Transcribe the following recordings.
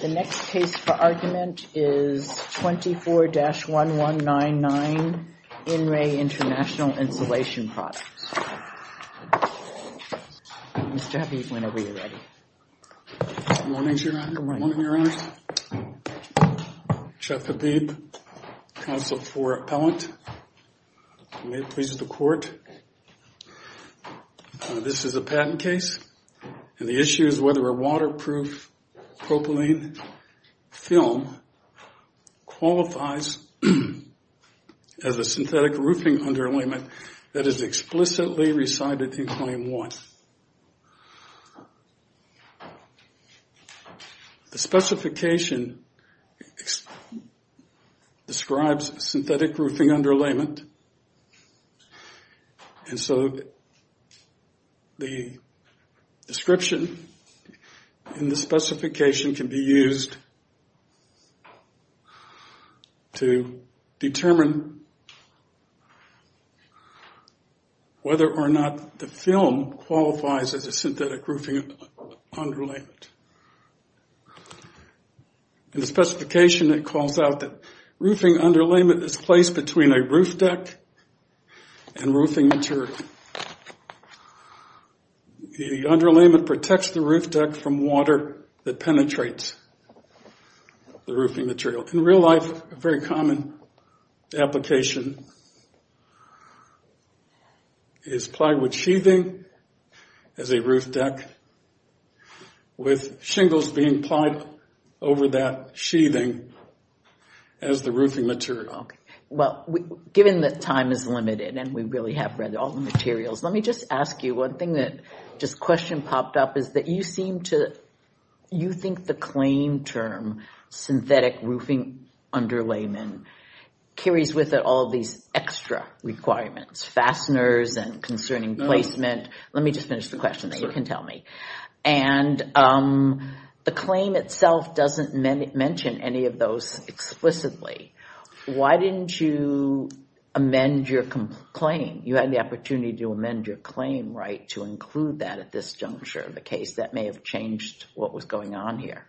The next case for argument is 24-1199, In Re International Insulation Products. Mr. Habib, whenever you're ready. Good morning, Your Honor. Good morning. Good morning, Your Honor. Jeff Habib, Counsel for Appellant. May it please the Court. This is a patent case. And the issue is whether a waterproof propylene film qualifies as a synthetic roofing underlayment that is explicitly recited in Claim 1. The specification describes synthetic roofing underlayment. And so the description in the specification can be used to determine whether or not the film qualifies as a synthetic roofing underlayment. In the specification, it calls out that roofing underlayment is placed between a roof deck and roofing material. The underlayment protects the roof deck from water that penetrates the roofing material. In real life, a very common application is plywood sheathing as a roof deck with shingles being applied over that sheathing as the roofing material. Well, given that time is limited and we really have read all the materials, let me just ask you one thing that just a question popped up. You think the claim term synthetic roofing underlayment carries with it all these extra requirements, fasteners and concerning placement. Let me just finish the question so you can tell me. And the claim itself doesn't mention any of those explicitly. Why didn't you amend your claim? You had the opportunity to amend your claim right to include that at this juncture of the case. That may have changed what was going on here.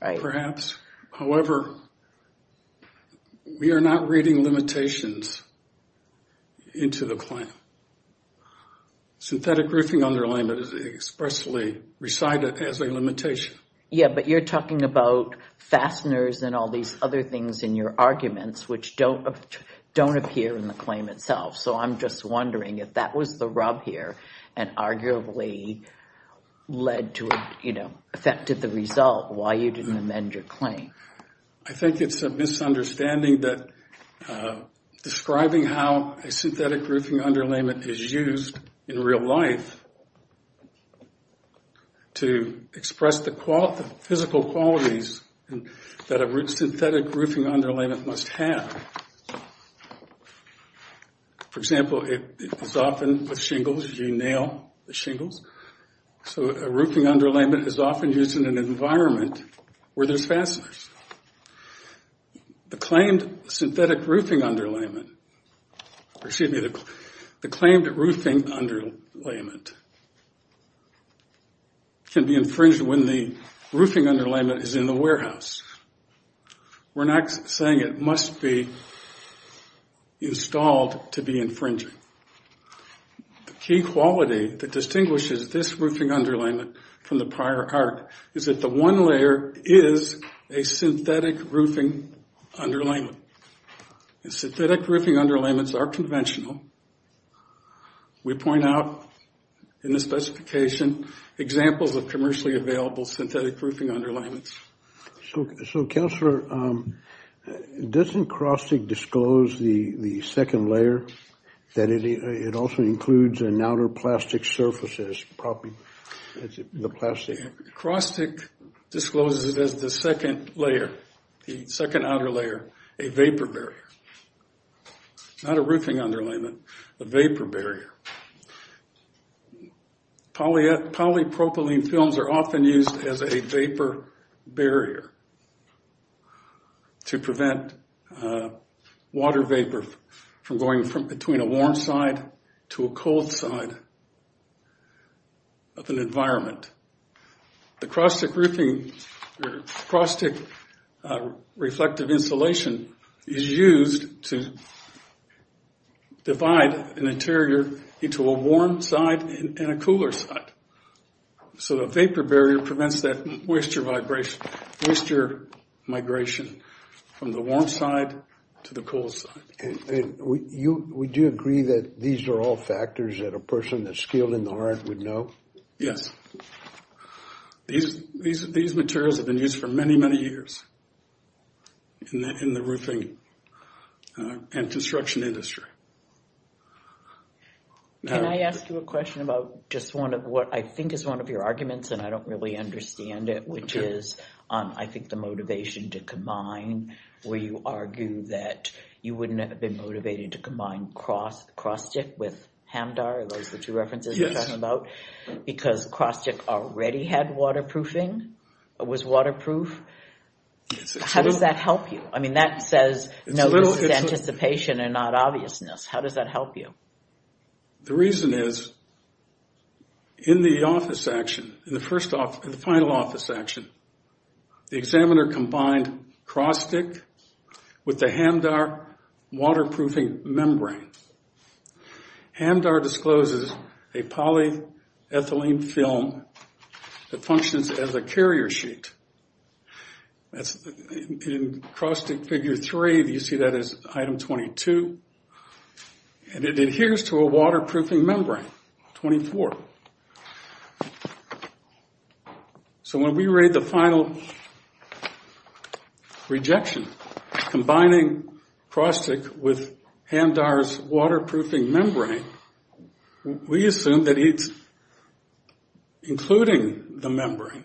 Perhaps. However, we are not reading limitations into the claim. Synthetic roofing underlayment is expressly recited as a limitation. Yeah, but you're talking about fasteners and all these other things in your arguments which don't appear in the claim itself. So I'm just wondering if that was the rub here and arguably led to, you know, affected the result, why you didn't amend your claim. I think it's a misunderstanding that describing how a synthetic roofing underlayment is used in real life to express the physical qualities that a synthetic roofing underlayment must have. For example, it is often with shingles. You nail the shingles. So a roofing underlayment is often used in an environment where there's fasteners. The claimed synthetic roofing underlayment, or excuse me, the claimed roofing underlayment can be infringed when the roofing underlayment is in the warehouse. We're not saying it must be installed to be infringing. The key quality that distinguishes this roofing underlayment from the prior art is that the one layer is a synthetic roofing underlayment. Synthetic roofing underlayments are conventional. We point out in the specification examples of commercially available synthetic roofing underlayments. So, Counselor, doesn't Krostic disclose the second layer, that it also includes an outer plastic surface as property, the plastic? Krostic discloses it as the second layer, the second outer layer, a vapor barrier. Not a roofing underlayment, a vapor barrier. Polypropylene films are often used as a vapor barrier to prevent water vapor from going from between a warm side to a cold side of an environment. The Krostic roofing, Krostic reflective insulation is used to divide an interior into a warm side and a cooler side. So the vapor barrier prevents that moisture migration from the warm side to the cool side. And would you agree that these are all factors that a person that's skilled in the art would know? Yes. These materials have been used for many, many years in the roofing and construction industry. Can I ask you a question about just one of what I think is one of your arguments, and I don't really understand it, which is I think the motivation to combine where you argue that you wouldn't have been motivated to combine Krostic with Hamdar, those are the two references you're talking about, because Krostic already had waterproofing, was waterproof. How does that help you? I mean, that says, no, this is anticipation and not obviousness. How does that help you? The reason is in the office action, in the final office action, the examiner combined Krostic with the Hamdar waterproofing membrane. Hamdar discloses a polyethylene film that functions as a carrier sheet. In Krostic figure three, you see that as item 22. And it adheres to a waterproofing membrane, 24. So when we read the final rejection, combining Krostic with Hamdar's waterproofing membrane, we assume that he's including the membrane.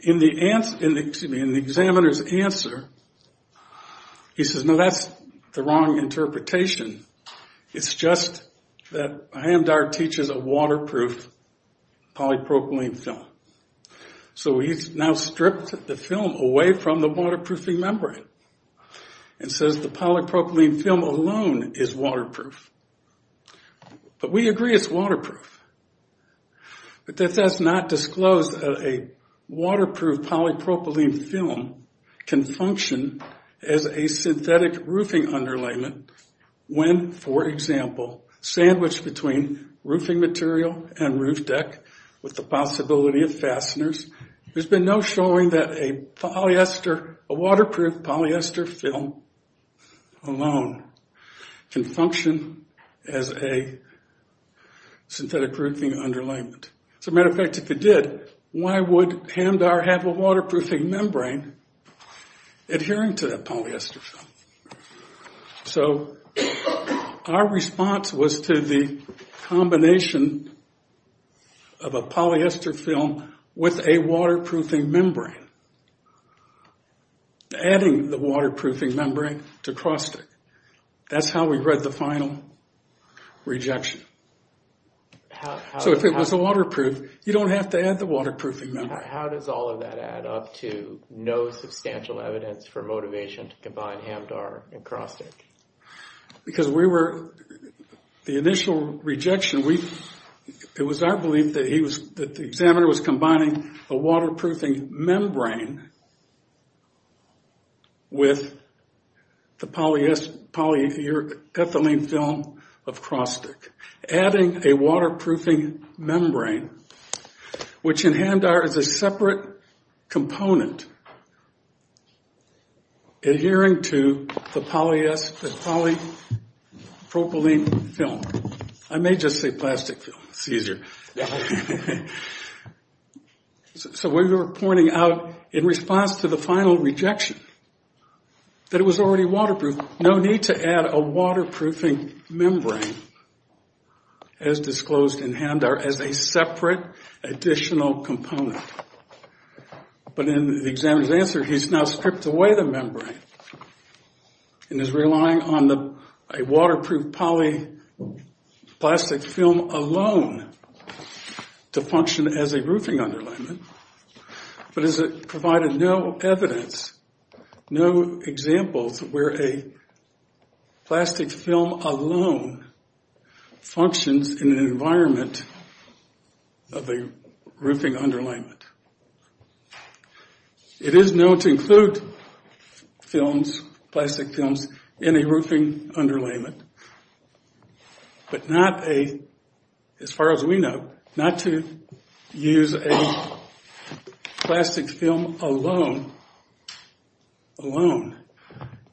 In the examiner's answer, he says, no, that's the wrong interpretation. It's just that Hamdar teaches a waterproof polypropylene film. So he's now stripped the film away from the waterproofing membrane and says the polypropylene film alone is waterproof. But we agree it's waterproof. But that does not disclose that a waterproof polypropylene film can function as a synthetic roofing underlayment. When, for example, sandwiched between roofing material and roof deck with the possibility of fasteners, there's been no showing that a waterproof polyester film alone can function as a synthetic roofing underlayment. As a matter of fact, if it did, why would Hamdar have a waterproofing membrane adhering to that polyester film? So our response was to the combination of a polyester film with a waterproofing membrane, adding the waterproofing membrane to Krostic. That's how we read the final rejection. So if it was waterproof, you don't have to add the waterproofing membrane. How does all of that add up to no substantial evidence for motivation to combine Hamdar and Krostic? Because the initial rejection, it was our belief that the examiner was combining a waterproofing membrane with the polyethylene film of Krostic. Adding a waterproofing membrane, which in Hamdar is a separate component adhering to the polypropylene film. I may just say plastic film. It's easier. So we were pointing out in response to the final rejection that it was already waterproof. There was no need to add a waterproofing membrane as disclosed in Hamdar as a separate additional component. But in the examiner's answer, he's now stripped away the membrane and is relying on a waterproof polyplastic film alone to function as a roofing underlayment. But as it provided no evidence, no examples where a plastic film alone functions in an environment of a roofing underlayment. It is known to include plastic films in a roofing underlayment. But not a, as far as we know, not to use a plastic film alone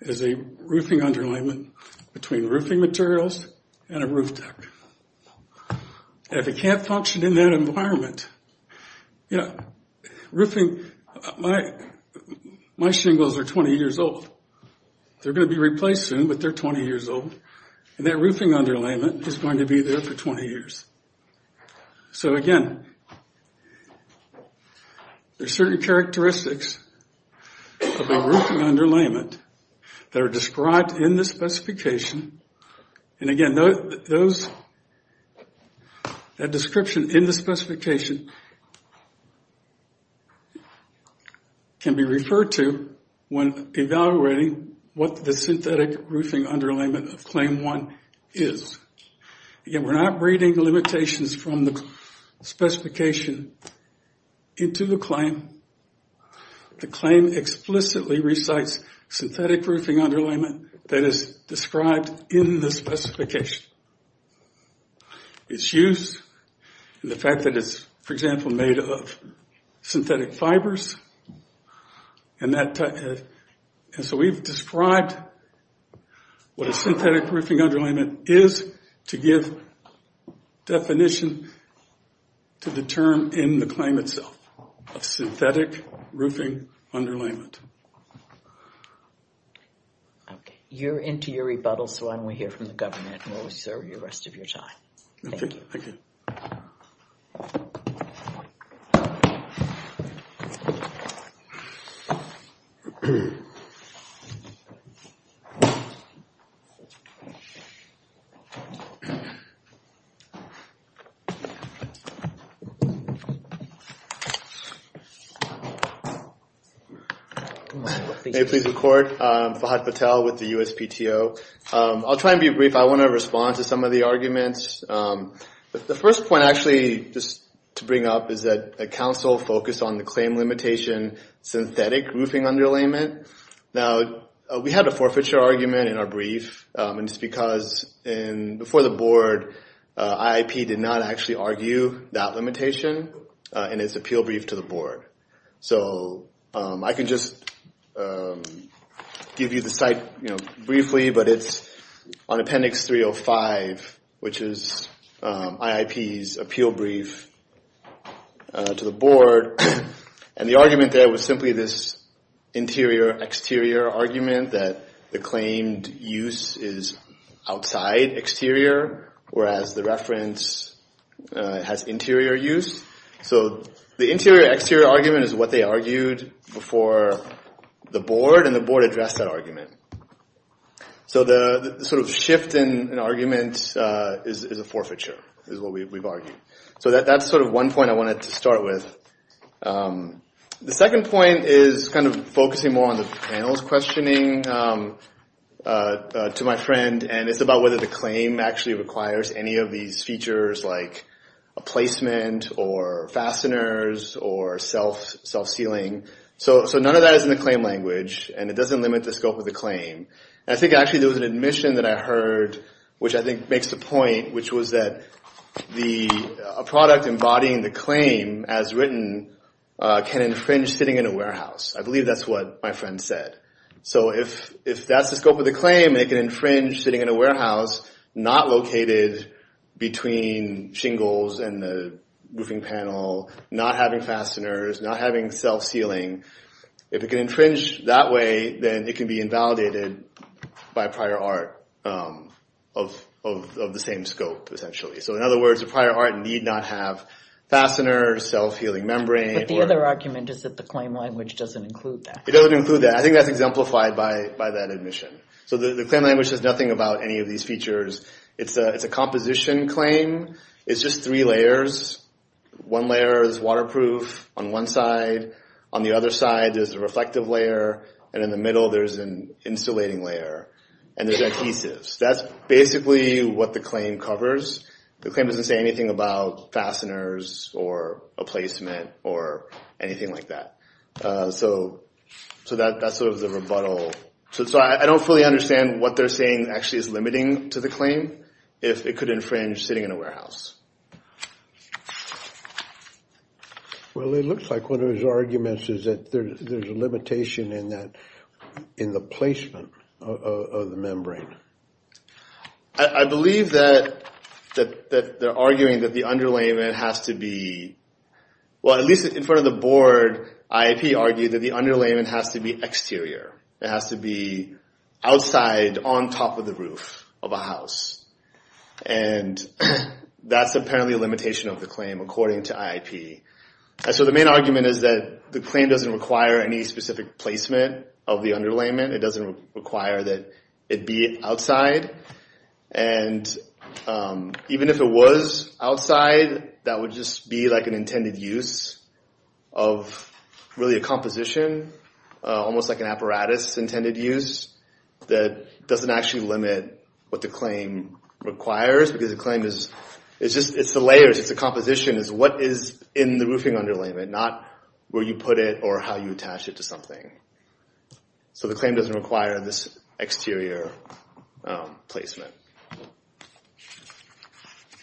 as a roofing underlayment between roofing materials and a roof deck. If it can't function in that environment, you know, roofing, my shingles are 20 years old. They're going to be replaced soon, but they're 20 years old. And that roofing underlayment is going to be there for 20 years. So again, there's certain characteristics of a roofing underlayment that are described in the specification. And again, those, that description in the specification can be referred to when evaluating what the synthetic roofing underlayment of Claim 1 is. Again, we're not reading the limitations from the specification into the claim. The claim explicitly recites synthetic roofing underlayment that is described in the specification. Its use, and the fact that it's, for example, made of synthetic fibers, and that, and so we've described what a synthetic roofing underlayment is to give definition to the term in the claim itself of synthetic roofing underlayment. Okay. You're into your rebuttal, so why don't we hear from the governor and we'll reserve the rest of your time. Thank you. Thank you. May it please the court, Fahad Patel with the USPTO. I'll try and be brief. I want to respond to some of the arguments. The first point, actually, just to bring up is that a council focused on the claim limitation synthetic roofing underlayment. Now, we had a forfeiture argument in our brief, and it's because before the board, IAP did not actually argue that limitation in its appeal brief to the board. So I can just give you the site briefly, but it's on Appendix 305, which is IAP's appeal brief to the board. And the argument there was simply this interior-exterior argument that the claimed use is outside exterior, whereas the reference has interior use. So the interior-exterior argument is what they argued before the board, and the board addressed that argument. So the sort of shift in arguments is a forfeiture, is what we've argued. So that's sort of one point I wanted to start with. The second point is kind of focusing more on the panel's questioning to my friend, and it's about whether the claim actually requires any of these features like a placement or fasteners or self-sealing. So none of that is in the claim language, and it doesn't limit the scope of the claim. I think actually there was an admission that I heard, which I think makes the point, which was that a product embodying the claim as written can infringe sitting in a warehouse. I believe that's what my friend said. So if that's the scope of the claim, it can infringe sitting in a warehouse not located between shingles and the roofing panel, not having fasteners, not having self-sealing. If it can infringe that way, then it can be invalidated by prior art of the same scope, essentially. So in other words, a prior art need not have fasteners, self-healing membrane. But the other argument is that the claim language doesn't include that. It doesn't include that. I think that's exemplified by that admission. So the claim language says nothing about any of these features. It's a composition claim. It's just three layers. One layer is waterproof on one side. On the other side, there's a reflective layer, and in the middle, there's an insulating layer, and there's adhesives. That's basically what the claim covers. The claim doesn't say anything about fasteners or a placement or anything like that. So that's sort of the rebuttal. So I don't fully understand what they're saying actually is limiting to the claim, if it could infringe sitting in a warehouse. Well, it looks like one of his arguments is that there's a limitation in the placement of the membrane. I believe that they're arguing that the underlayment has to be, well, at least in front of the board, IAP argued that the underlayment has to be exterior. It has to be outside on top of the roof of a house, and that's apparently a limitation of the claim, according to IAP. So the main argument is that the claim doesn't require any specific placement of the underlayment. It doesn't require that it be outside, and even if it was outside, that would just be like an intended use of really a composition, almost like an apparatus intended use that doesn't actually limit what the claim requires, because the claim is just the layers. It's the composition. It's what is in the roofing underlayment, not where you put it or how you attach it to something. So the claim doesn't require this exterior placement.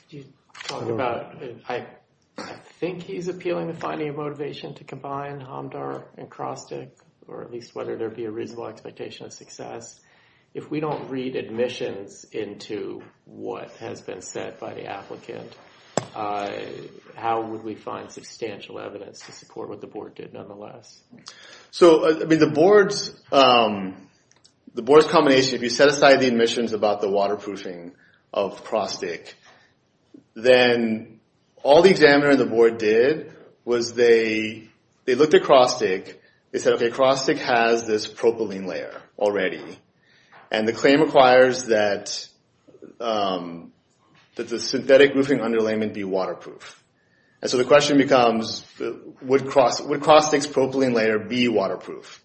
Do you talk about, I think he's appealing to finding a motivation to combine HOMDAR and CROSTIC, or at least whether there be a reasonable expectation of success. If we don't read admissions into what has been said by the applicant, how would we find substantial evidence to support what the board did nonetheless? So the board's combination, if you set aside the admissions about the waterproofing of CROSTIC, then all the examiner and the board did was they looked at CROSTIC. They said, okay, CROSTIC has this propylene layer already, and the claim requires that the synthetic roofing underlayment be waterproof. So the question becomes, would CROSTIC's propylene layer be waterproof?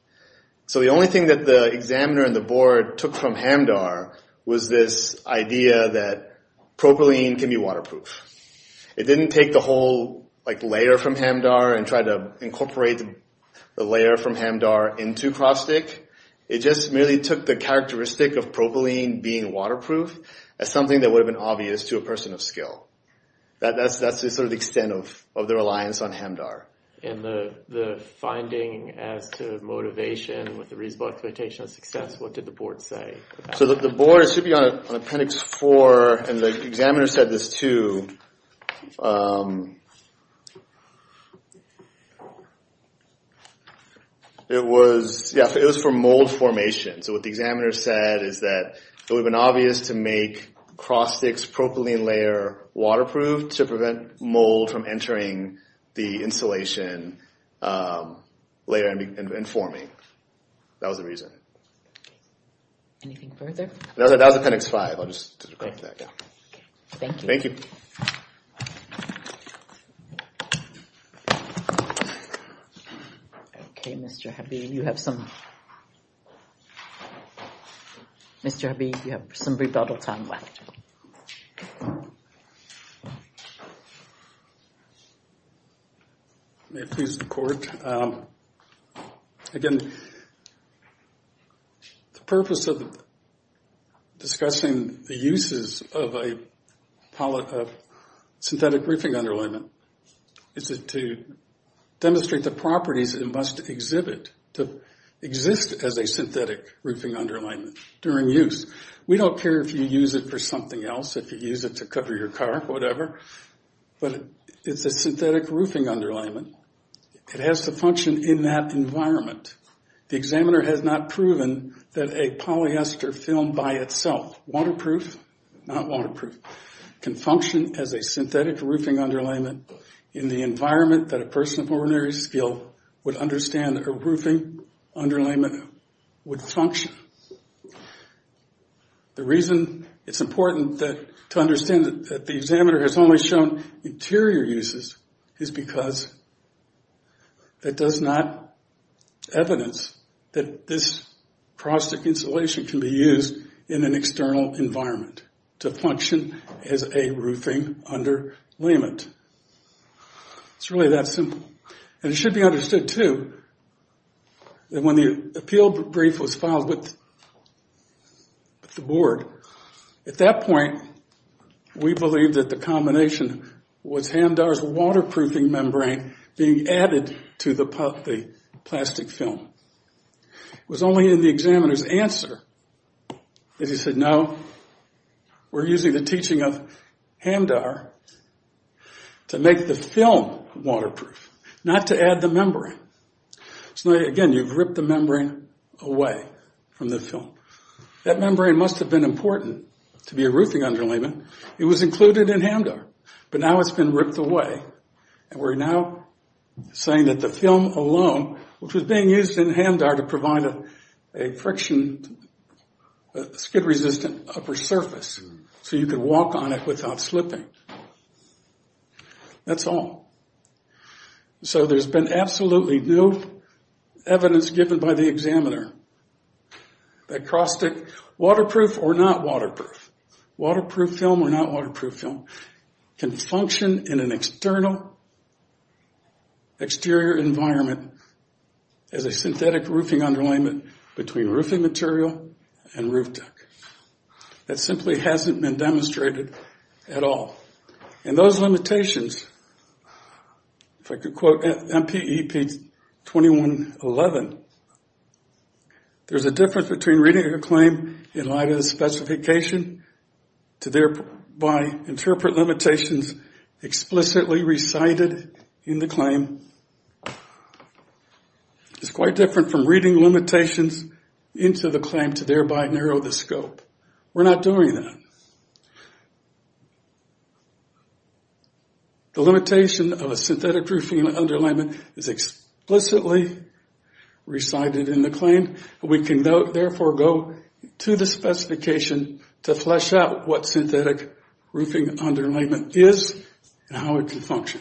So the only thing that the examiner and the board took from HOMDAR was this idea that propylene can be waterproof. It didn't take the whole layer from HOMDAR and try to incorporate the layer from HOMDAR into CROSTIC. It just merely took the characteristic of propylene being waterproof as something that would have been obvious to a person of skill. That's sort of the extent of their reliance on HOMDAR. And the finding as to motivation with a reasonable expectation of success, what did the board say? So the board, it should be on appendix four, and the examiner said this too. It was for mold formation. So what the examiner said is that it would have been obvious to make CROSTIC's propylene layer waterproof to prevent mold from entering the insulation layer and forming. That was the reason. Thank you. Thank you. Okay, Mr. Habeeb, you have some rebuttal time left. May it please the court. Again, the purpose of discussing the uses of a synthetic roofing underlayment is to demonstrate the properties it must exhibit to exist as a synthetic roofing underlayment during use. We don't care if you use it for something else, if you use it to cover your car, whatever. But it's a synthetic roofing underlayment, it has to function in that environment. The examiner has not proven that a polyester film by itself, waterproof, not waterproof, can function as a synthetic roofing underlayment in the environment that a person of ordinary skill would understand a roofing underlayment would function. The reason it's important to understand that the examiner has only shown interior uses is because it does not evidence that this CROSTIC insulation can be used in an external environment to function as a roofing underlayment. It's really that simple. And it should be understood, too, that when the appeal brief was filed with the board, at that point we believed that the combination was Hamdar's waterproofing membrane being added to the plastic film. It was only in the examiner's answer that he said, no, we're using the teaching of Hamdar to make the film waterproof, not to add the membrane. Again, you've ripped the membrane away from the film. That membrane must have been important to be a roofing underlayment. It was included in Hamdar, but now it's been ripped away. And we're now saying that the film alone, which was being used in Hamdar to provide a friction, a skid-resistant upper surface so you could walk on it without slipping. That's all. So there's been absolutely no evidence given by the examiner that CROSTIC, waterproof or not waterproof, waterproof film or not waterproof film, can function in an external, exterior environment as a synthetic roofing underlayment between roofing material and roof deck. That simply hasn't been demonstrated at all. And those limitations, if I could quote MPEP 2111, there's a difference between reading a claim in light of the specification to thereby interpret limitations explicitly recited in the claim. It's quite different from reading limitations into the claim to thereby narrow the scope. We're not doing that. The limitation of a synthetic roofing underlayment is explicitly recited in the claim. We can therefore go to the specification to flesh out what synthetic roofing underlayment is and how it can function.